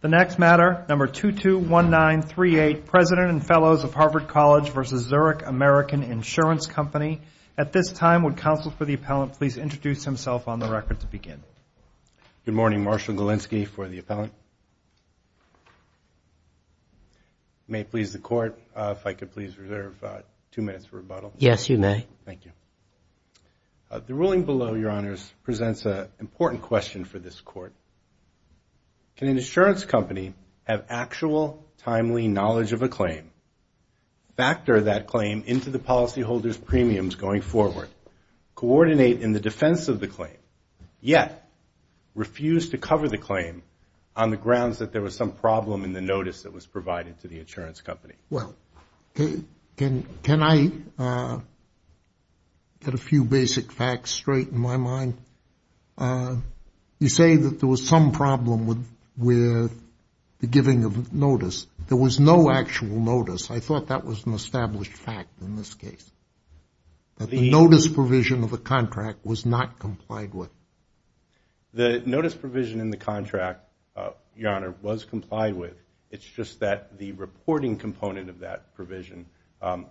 The next matter, number 221938, President and Fellows of Harvard College v. Zurich American Insurance Company. At this time, would counsel for the appellant please introduce himself on the record to begin. Good morning. Marshall Galinsky for the appellant. May it please the Court, if I could please reserve two minutes for rebuttal. Yes, you may. Thank you. The ruling below, Your Honors, presents an important question for this Court. Can an insurance company have actual, timely knowledge of a claim, factor that claim into the policyholder's premiums going forward, coordinate in the defense of the claim, yet refuse to cover the claim on the grounds that there was some problem in the notice that was provided to the insurance company? Well, can I get a few basic facts straight in my mind? You say that there was some problem with the giving of notice. There was no actual notice. I thought that was an established fact in this case, that the notice provision of the contract was not complied with. The notice provision in the contract, Your Honor, was complied with. It's just that the reporting component of that provision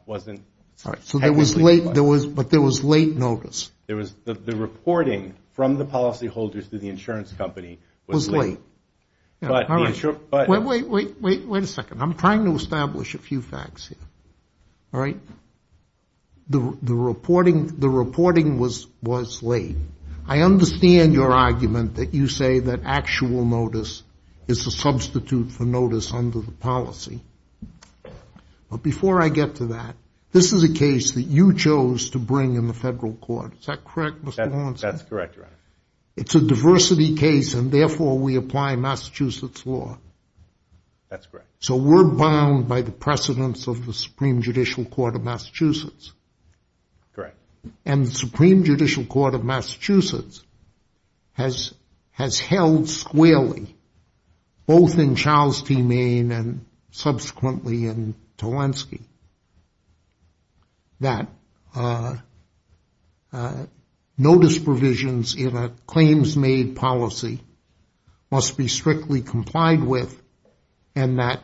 wasn't technically complied. But there was late notice. The reporting from the policyholders to the insurance company was late. Wait a second. I'm trying to establish a few facts here. All right? The reporting was late. I understand your argument that you say that actual notice is a substitute for notice under the policy. But before I get to that, this is a case that you chose to bring in the federal court. Is that correct, Mr. Lawrence? That's correct, Your Honor. It's a diversity case, and therefore we apply Massachusetts law. That's correct. So we're bound by the precedents of the Supreme Judicial Court of Massachusetts. Correct. And the Supreme Judicial Court of Massachusetts has held squarely, both in Charles T. Maine and subsequently in Tolensky, that notice provisions in a claims-made policy must be strictly complied with and that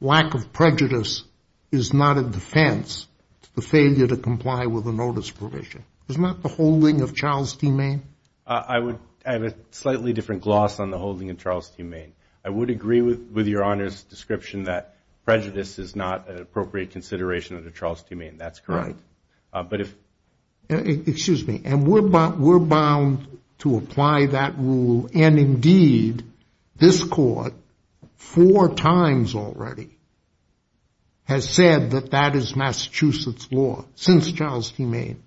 lack of prejudice is not a defense to the failure to comply with a notice provision. Is that the holding of Charles T. Maine? I have a slightly different gloss on the holding of Charles T. Maine. I would agree with Your Honor's description that prejudice is not an appropriate consideration under Charles T. Maine. That's correct. Excuse me. And we're bound to apply that rule. And, indeed, this court four times already has said that that is Massachusetts law since Charles T. Maine.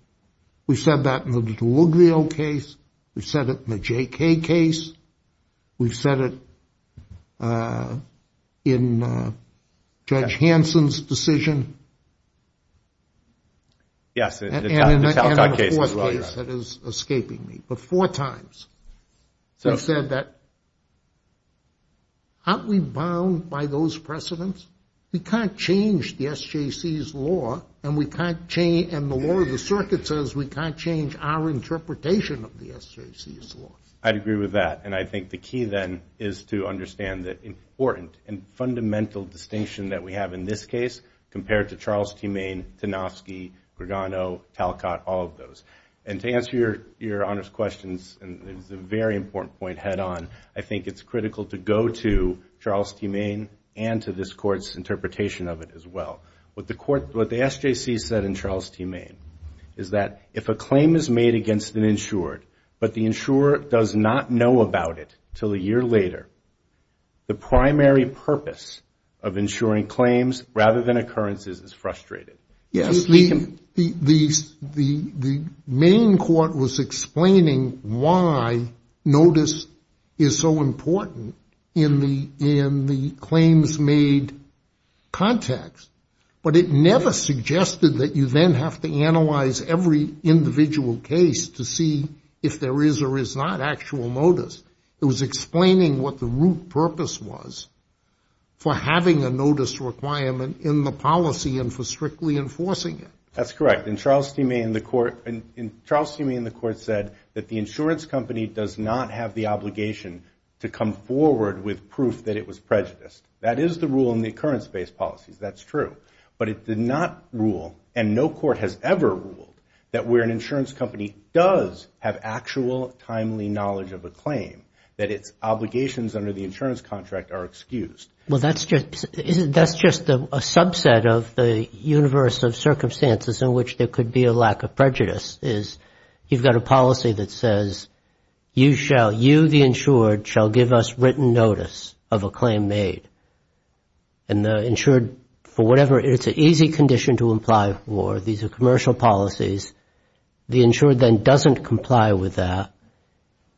We've said that in the Deluglio case. We've said it in the J.K. case. We've said it in Judge Hansen's decision. Yes, the Talcott case. And in the fourth case that is escaping me. But four times we've said that aren't we bound by those precedents? We can't change the SJC's law, and the law of the circuit says we can't change our interpretation of the SJC's law. I'd agree with that. And I think the key then is to understand the important and fundamental distinction that we have in this case compared to Charles T. Maine, Tanofsky, Grigano, Talcott, all of those. And to answer Your Honor's questions, and it's a very important point head on, I think it's critical to go to Charles T. Maine and to this court's interpretation of it as well. What the SJC said in Charles T. Maine is that if a claim is made against an insured, but the insurer does not know about it until a year later, the primary purpose of insuring claims rather than occurrences is frustrated. Yes. The Maine court was explaining why notice is so important in the claims made context, but it never suggested that you then have to analyze every individual case to see if there is or is not actual notice. It was explaining what the root purpose was for having a notice requirement in the policy and for strictly enforcing it. That's correct. In Charles T. Maine, the court said that the insurance company does not have the obligation to come forward with proof that it was prejudiced. That is the rule in the occurrence-based policies. That's true. But it did not rule, and no court has ever ruled, that where an insurance company does have actual timely knowledge of a claim, that its obligations under the insurance contract are excused. Well, that's just a subset of the universe of circumstances in which there could be a lack of prejudice, is you've got a policy that says, you, the insured, shall give us written notice of a claim made. And the insured, for whatever, it's an easy condition to imply war. These are commercial policies. The insured then doesn't comply with that.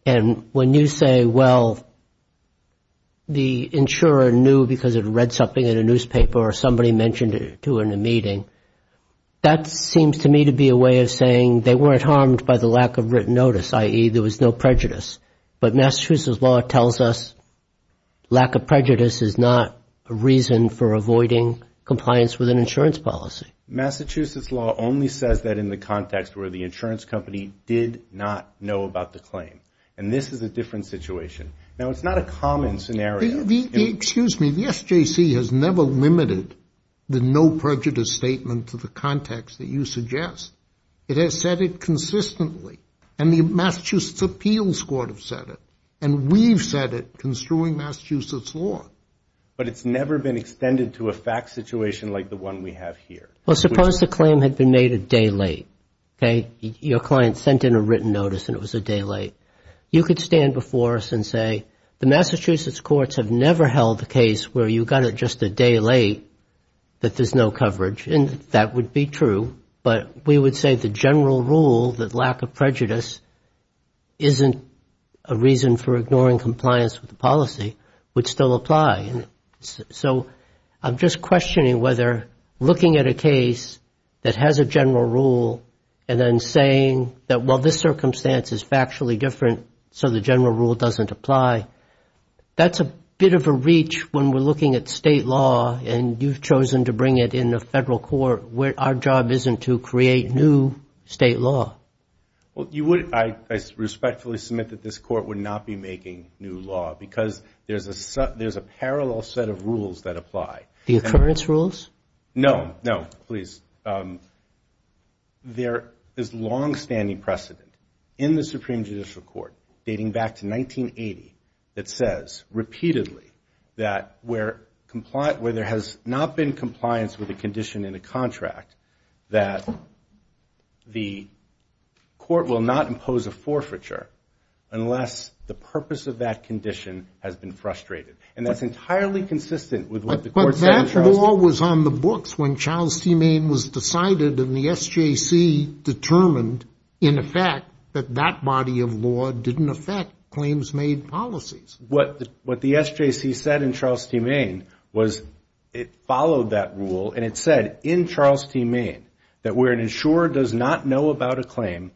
And when you say, well, the insurer knew because it read something in a newspaper or somebody mentioned it to her in a meeting, that seems to me to be a way of saying they weren't harmed by the lack of written notice, i.e., there was no prejudice. But Massachusetts law tells us lack of prejudice is not a reason for avoiding compliance with an insurance policy. Massachusetts law only says that in the context where the insurance company did not know about the claim. And this is a different situation. Now, it's not a common scenario. Excuse me. The SJC has never limited the no prejudice statement to the context that you suggest. It has said it consistently. And the Massachusetts Appeals Court have said it. And we've said it construing Massachusetts law. But it's never been extended to a fact situation like the one we have here. Well, suppose the claim had been made a day late. Okay? Your client sent in a written notice and it was a day late. You could stand before us and say, the Massachusetts courts have never held a case where you got it just a day late that there's no coverage. And that would be true. But we would say the general rule that lack of prejudice isn't a reason for ignoring compliance with the policy would still apply. So I'm just questioning whether looking at a case that has a general rule and then saying that while this circumstance is factually different, so the general rule doesn't apply, that's a bit of a reach when we're looking at state law and you've chosen to bring it in the federal court where our job isn't to create new state law. Well, I respectfully submit that this court would not be making new law because there's a parallel set of rules that apply. The occurrence rules? No, no, please. There is longstanding precedent in the Supreme Judicial Court dating back to 1980 that says repeatedly that where there has not been compliance with a condition in a contract that the court will not impose a forfeiture unless the purpose of that condition has been frustrated. And that's entirely consistent with what the court said in Charleston. The claim was decided and the SJC determined in effect that that body of law didn't affect claims made policies. What the SJC said in Charleston, Maine, was it followed that rule and it said in Charleston, Maine, that where an insurer does not know about a claim,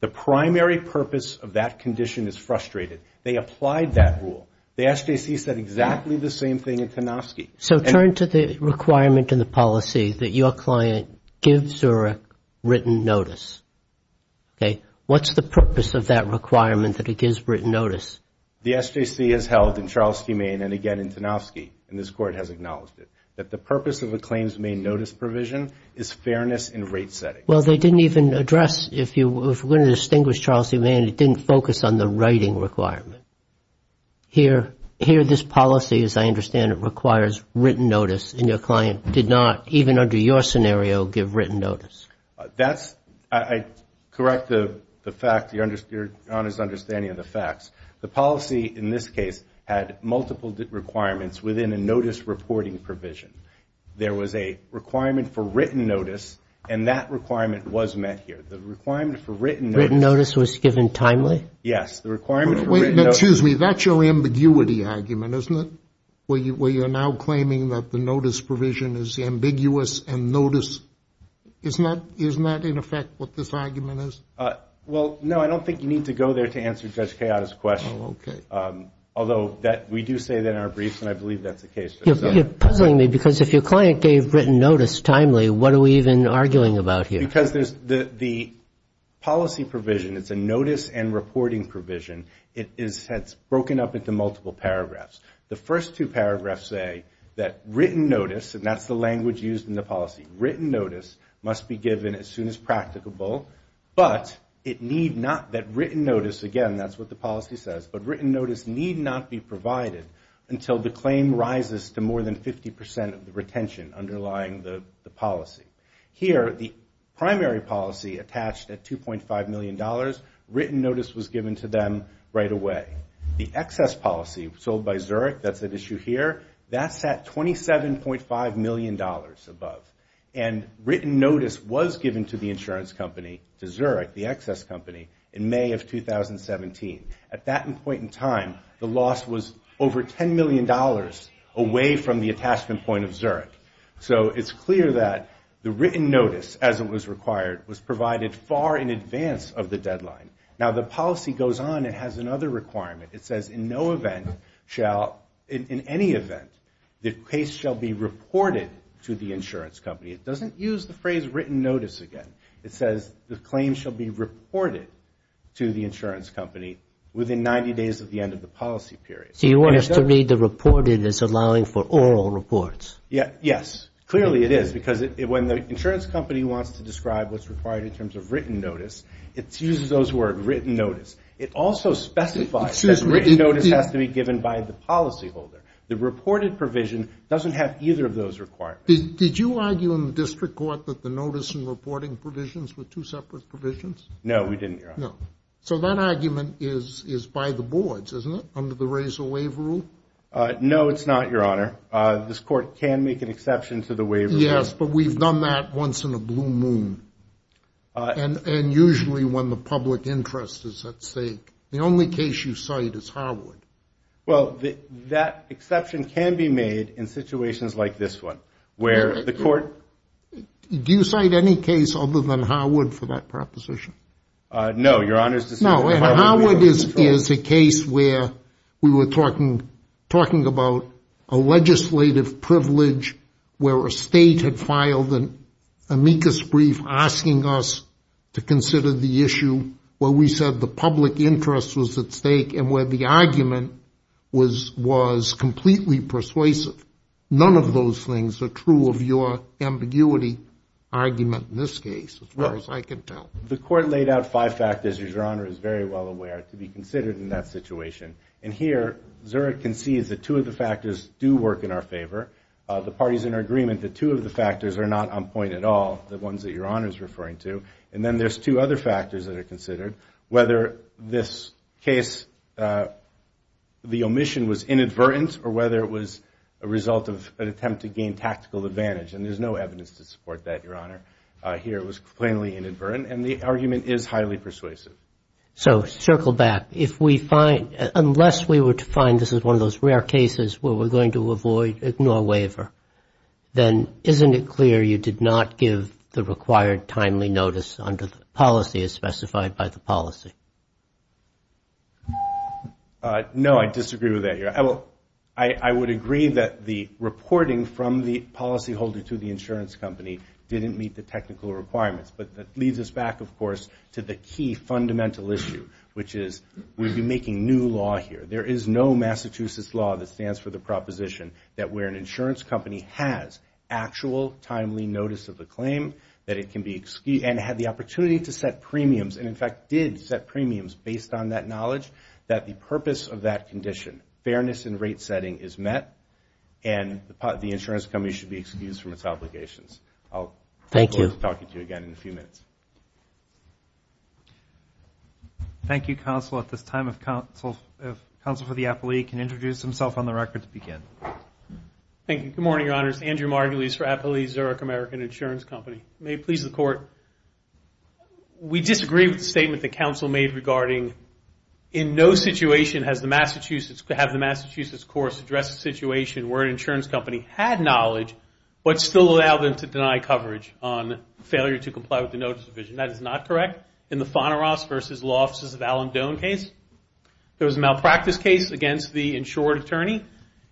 the primary purpose of that condition is frustrated. They applied that rule. The SJC said exactly the same thing in Kanofsky. So turn to the requirement in the policy that your client gives a written notice. Okay. What's the purpose of that requirement that it gives written notice? The SJC has held in Charleston, Maine, and again in Kanofsky, and this court has acknowledged it, that the purpose of a claims made notice provision is fairness in rate setting. Well, they didn't even address, if you were going to distinguish Charleston, Maine, it didn't focus on the writing requirement. Here this policy, as I understand it, requires written notice and your client did not, even under your scenario, give written notice. That's, I correct the fact, your Honor's understanding of the facts. The policy in this case had multiple requirements within a notice reporting provision. There was a requirement for written notice and that requirement was met here. The requirement for written notice. Written notice was given timely? Yes. The requirement for written notice. Excuse me, that's your ambiguity argument, isn't it? Where you're now claiming that the notice provision is ambiguous and notice, isn't that in effect what this argument is? Well, no, I don't think you need to go there to answer Judge Kayotta's question. Oh, okay. Although we do say that in our briefs and I believe that's the case. You're puzzling me because if your client gave written notice timely, what are we even arguing about here? Because the policy provision, it's a notice and reporting provision, it's broken up into multiple paragraphs. The first two paragraphs say that written notice, and that's the language used in the policy, written notice must be given as soon as practicable, but it need not, that written notice, again, that's what the policy says, but written notice need not be provided until the claim rises to more than 50% of the retention underlying the policy. Here, the primary policy attached at $2.5 million, written notice was given to them right away. The excess policy sold by Zurich, that's at issue here, that's at $27.5 million above. And written notice was given to the insurance company, to Zurich, the excess company, in May of 2017. At that point in time, the loss was over $10 million away from the attachment point of Zurich. So it's clear that the written notice, as it was required, was provided far in advance of the deadline. Now, the policy goes on and has another requirement. It says in no event shall, in any event, the case shall be reported to the insurance company. It doesn't use the phrase written notice again. It says the claim shall be reported to the insurance company within 90 days of the end of the policy period. So you want us to read the reported as allowing for oral reports? Yes. Clearly it is, because when the insurance company wants to describe what's required in terms of written notice, it uses those words, written notice. It also specifies that written notice has to be given by the policyholder. The reported provision doesn't have either of those requirements. Did you argue in the district court that the notice and reporting provisions were two separate provisions? No, we didn't, Your Honor. No. So that argument is by the boards, isn't it, under the razor waiver rule? No, it's not, Your Honor. This court can make an exception to the waiver rule. Yes, but we've done that once in a blue moon, and usually when the public interest is at stake. The only case you cite is Harwood. Well, that exception can be made in situations like this one, where the court – Do you cite any case other than Harwood for that proposition? No, Your Honor. No, and Harwood is a case where we were talking about a legislative privilege where a state had filed an amicus brief asking us to consider the issue where we said the public interest was at stake and where the argument was completely persuasive. None of those things are true of your ambiguity argument in this case, as far as I can tell. The court laid out five factors, as Your Honor is very well aware, to be considered in that situation. And here, Zurich concedes that two of the factors do work in our favor. The parties are in agreement that two of the factors are not on point at all, the ones that Your Honor is referring to. And then there's two other factors that are considered, whether this case, the omission was inadvertent or whether it was a result of an attempt to gain tactical advantage. And there's no evidence to support that, Your Honor. Here it was plainly inadvertent, and the argument is highly persuasive. So circle back. If we find, unless we were to find this is one of those rare cases where we're going to avoid, ignore waiver, then isn't it clear you did not give the required timely notice under the policy as specified by the policy? I would agree that the reporting from the policyholder to the insurance company didn't meet the technical requirements. But that leads us back, of course, to the key fundamental issue, which is we'd be making new law here. There is no Massachusetts law that stands for the proposition that where an insurance company has actual timely notice of the claim, that it can be, and had the opportunity to set premiums, and in fact did set premiums based on that knowledge, that the purpose of that condition, fairness in rate setting, is met, and the insurance company should be excused from its obligations. Thank you. I'll look forward to talking to you again in a few minutes. Thank you, Counsel. At this time, if Counsel for the Appellee can introduce himself on the record to begin. Thank you. Good morning, Your Honors. Andrew Margulies for Appellee's Zurich American Insurance Company. May it please the Court. We disagree with the statement that Counsel made regarding in no situation has the Massachusetts course addressed a situation where an insurance company had knowledge, but still allowed them to deny coverage on failure to comply with the notice provision. That is not correct. In the Foneros v. Law Offices of Alan Doan case, there was a malpractice case against the insured attorney,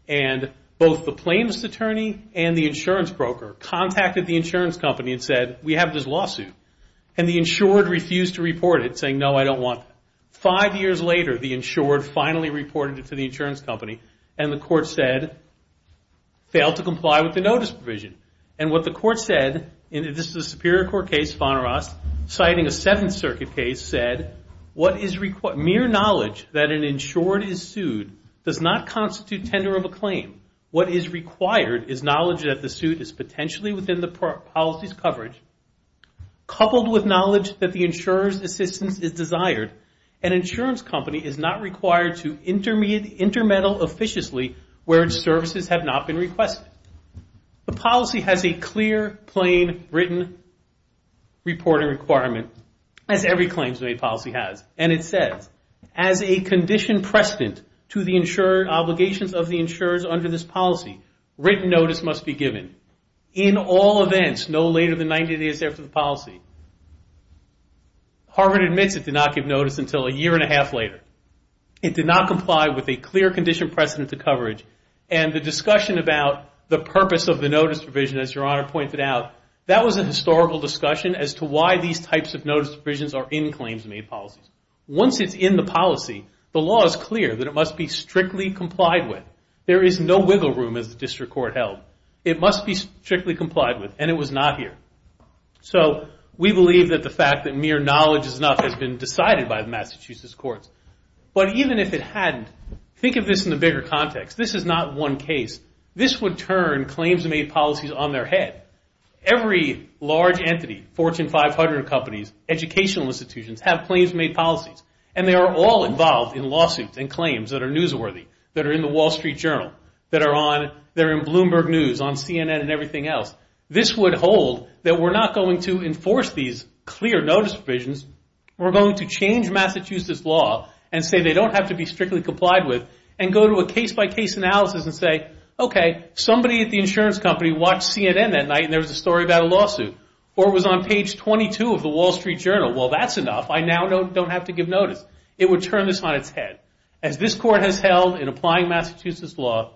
and both the plaintiff's attorney and the insurance broker contacted the insurance company and said, we have this lawsuit, and the insured refused to report it, saying, no, I don't want that. Five years later, the insured finally reported it to the insurance company, and the court said, failed to comply with the notice provision. And what the court said, and this is a Superior Court case, Foneros, citing a Seventh Circuit case, said, mere knowledge that an insured is sued does not constitute tender of a claim. What is required is knowledge that the suit is potentially within the policy's coverage, coupled with knowledge that the insurer's assistance is desired, an insurance company is not required to intermeddle officiously where its services have not been requested. The policy has a clear, plain, written reporting requirement, as every claims-made policy has. And it says, as a condition precedent to the obligations of the insurers under this policy, written notice must be given. In all events, no later than 90 days after the policy. Harvard admits it did not give notice until a year and a half later. It did not comply with a clear condition precedent to coverage, and the discussion about the purpose of the notice provision, as Your Honor pointed out, that was a historical discussion as to why these types of notice provisions are in claims-made policies. Once it's in the policy, the law is clear that it must be strictly complied with. There is no wiggle room, as the district court held. It must be strictly complied with, and it was not here. So we believe that the fact that mere knowledge is not has been decided by the Massachusetts courts. But even if it hadn't, think of this in a bigger context. This is not one case. This would turn claims-made policies on their head. Every large entity, Fortune 500 companies, educational institutions, have claims-made policies, and they are all involved in lawsuits and claims that are newsworthy, that are in the Wall Street Journal, that are in Bloomberg News, on CNN, and everything else. This would hold that we're not going to enforce these clear notice provisions. We're going to change Massachusetts law and say they don't have to be strictly complied with and go to a case-by-case analysis and say, okay, somebody at the insurance company watched CNN that night and there was a story about a lawsuit, or it was on page 22 of the Wall Street Journal. Well, that's enough. I now don't have to give notice. It would turn this on its head. As this court has held in applying Massachusetts law,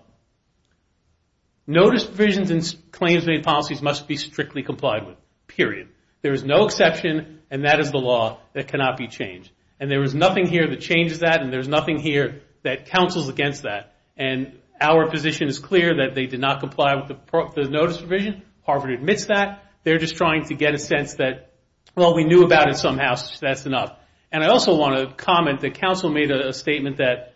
notice provisions in claims-made policies must be strictly complied with, period. There is no exception, and that is the law that cannot be changed. And there is nothing here that changes that, and there is nothing here that counsels against that. And our position is clear that they did not comply with the notice provision. Harvard admits that. They're just trying to get a sense that, well, we knew about it somehow, so that's enough. And I also want to comment that counsel made a statement that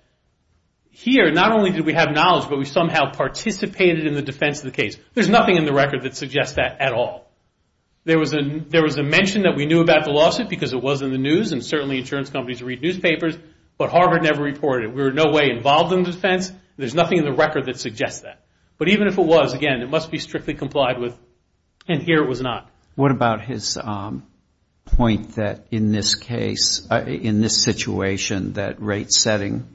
here, not only did we have knowledge, but we somehow participated in the defense of the case. There's nothing in the record that suggests that at all. There was a mention that we knew about the lawsuit because it was in the news, and certainly insurance companies read newspapers, but Harvard never reported it. We were in no way involved in the defense. There's nothing in the record that suggests that. But even if it was, again, it must be strictly complied with, and here it was not. What about his point that in this case, in this situation, that rate setting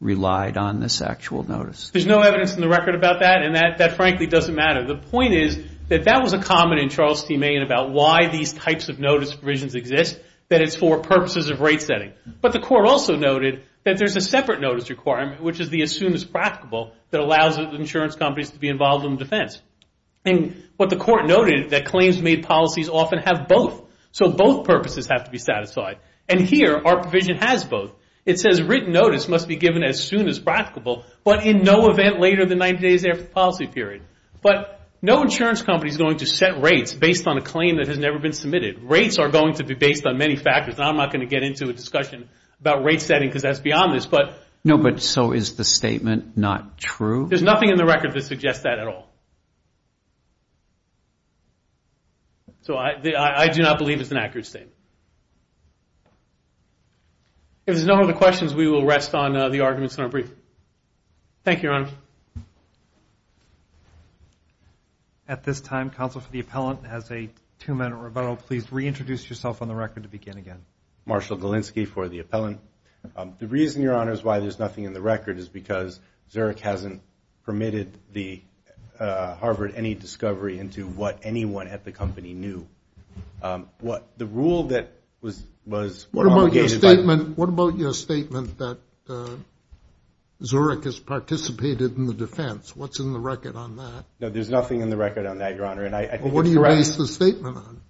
relied on this actual notice? There's no evidence in the record about that, and that frankly doesn't matter. The point is that that was a comment in Charles T. Main about why these types of notice provisions exist, that it's for purposes of rate setting. But the court also noted that there's a separate notice requirement, which is the as soon as practicable that allows insurance companies to be involved in the defense. And what the court noted is that claims made policies often have both, so both purposes have to be satisfied. And here our provision has both. It says written notice must be given as soon as practicable, but in no event later than 90 days after the policy period. But no insurance company is going to set rates based on a claim that has never been submitted. Rates are going to be based on many factors, and I'm not going to get into a discussion about rate setting because that's beyond this. No, but so is the statement not true? There's nothing in the record that suggests that at all. So I do not believe it's an accurate statement. If there's no other questions, we will rest on the arguments in our brief. Thank you, Your Honor. At this time, counsel for the appellant has a two-minute rebuttal. Please reintroduce yourself on the record to begin again. Marshall Galinsky for the appellant. The reason, Your Honor, is why there's nothing in the record is because Zurich hasn't permitted Harvard any discovery into what anyone at the company knew. The rule that was obligated by— What about your statement that Zurich has participated in the defense? What's in the record on that? No, there's nothing in the record on that, Your Honor. What do you base the statement on?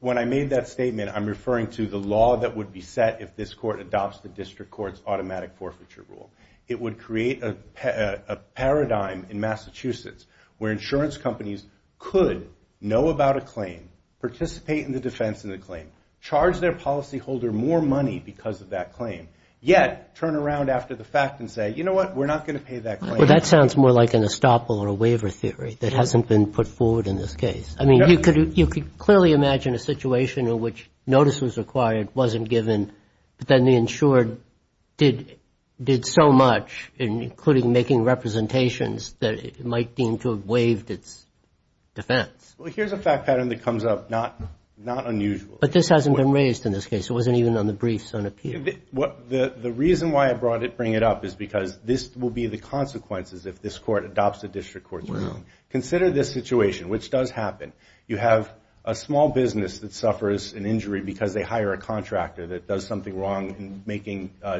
When I made that statement, I'm referring to the law that would be set if this court adopts the district court's automatic forfeiture rule. It would create a paradigm in Massachusetts where insurance companies could know about a claim, participate in the defense of the claim, charge their policyholder more money because of that claim, yet turn around after the fact and say, you know what, we're not going to pay that claim. Well, that sounds more like an estoppel or a waiver theory that hasn't been put forward in this case. I mean, you could clearly imagine a situation in which notice was required, wasn't given, but then the insured did so much, including making representations that it might deem to have waived its defense. Well, here's a fact pattern that comes up, not unusual. But this hasn't been raised in this case. It wasn't even on the briefs on appeal. The reason why I brought it up is because this will be the consequences if this court adopts the district court's rule. Consider this situation, which does happen. You have a small business that suffers an injury because they hire a contractor that does something wrong in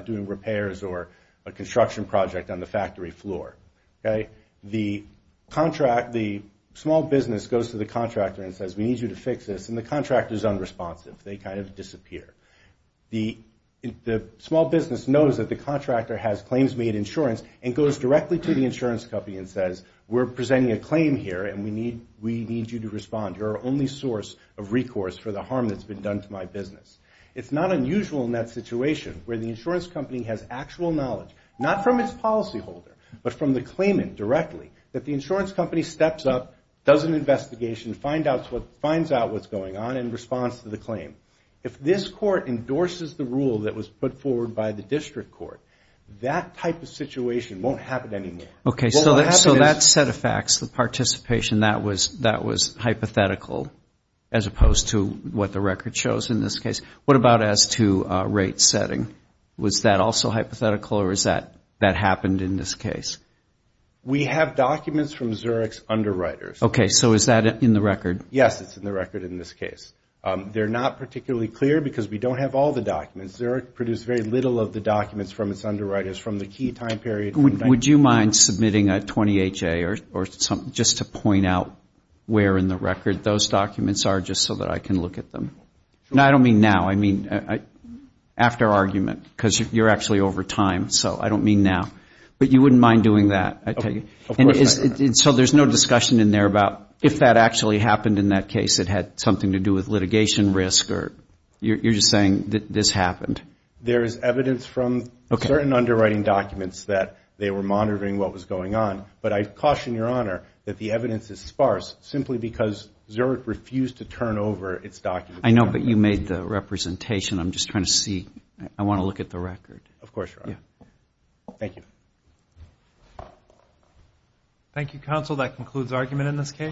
doing repairs or a construction project on the factory floor. The small business goes to the contractor and says, we need you to fix this, and the contractor is unresponsive. They kind of disappear. The small business knows that the contractor has claims made insurance and goes directly to the insurance company and says, we're presenting a claim here, and we need you to respond. You're our only source of recourse for the harm that's been done to my business. It's not unusual in that situation where the insurance company has actual knowledge, not from its policyholder, but from the claimant directly, that the insurance company steps up, does an investigation, finds out what's going on in response to the claim. If this court endorses the rule that was put forward by the district court, that type of situation won't happen anymore. Okay, so that set of facts, the participation, that was hypothetical as opposed to what the record shows in this case. What about as to rate setting? Was that also hypothetical or has that happened in this case? We have documents from Zurich's underwriters. Okay, so is that in the record? Yes, it's in the record in this case. They're not particularly clear because we don't have all the documents. Zurich produced very little of the documents from its underwriters from the key time period. Would you mind submitting a 20HA just to point out where in the record those documents are just so that I can look at them? I don't mean now, I mean after argument because you're actually over time, so I don't mean now. But you wouldn't mind doing that? So there's no discussion in there about if that actually happened in that case, it had something to do with litigation risk or you're just saying that this happened? There is evidence from certain underwriting documents that they were monitoring what was going on, but I caution Your Honor that the evidence is sparse simply because Zurich refused to turn over its documents. I know, but you made the representation. I'm just trying to see. I want to look at the record. Of course, Your Honor. Thank you. Thank you, Counsel. That concludes argument in this case.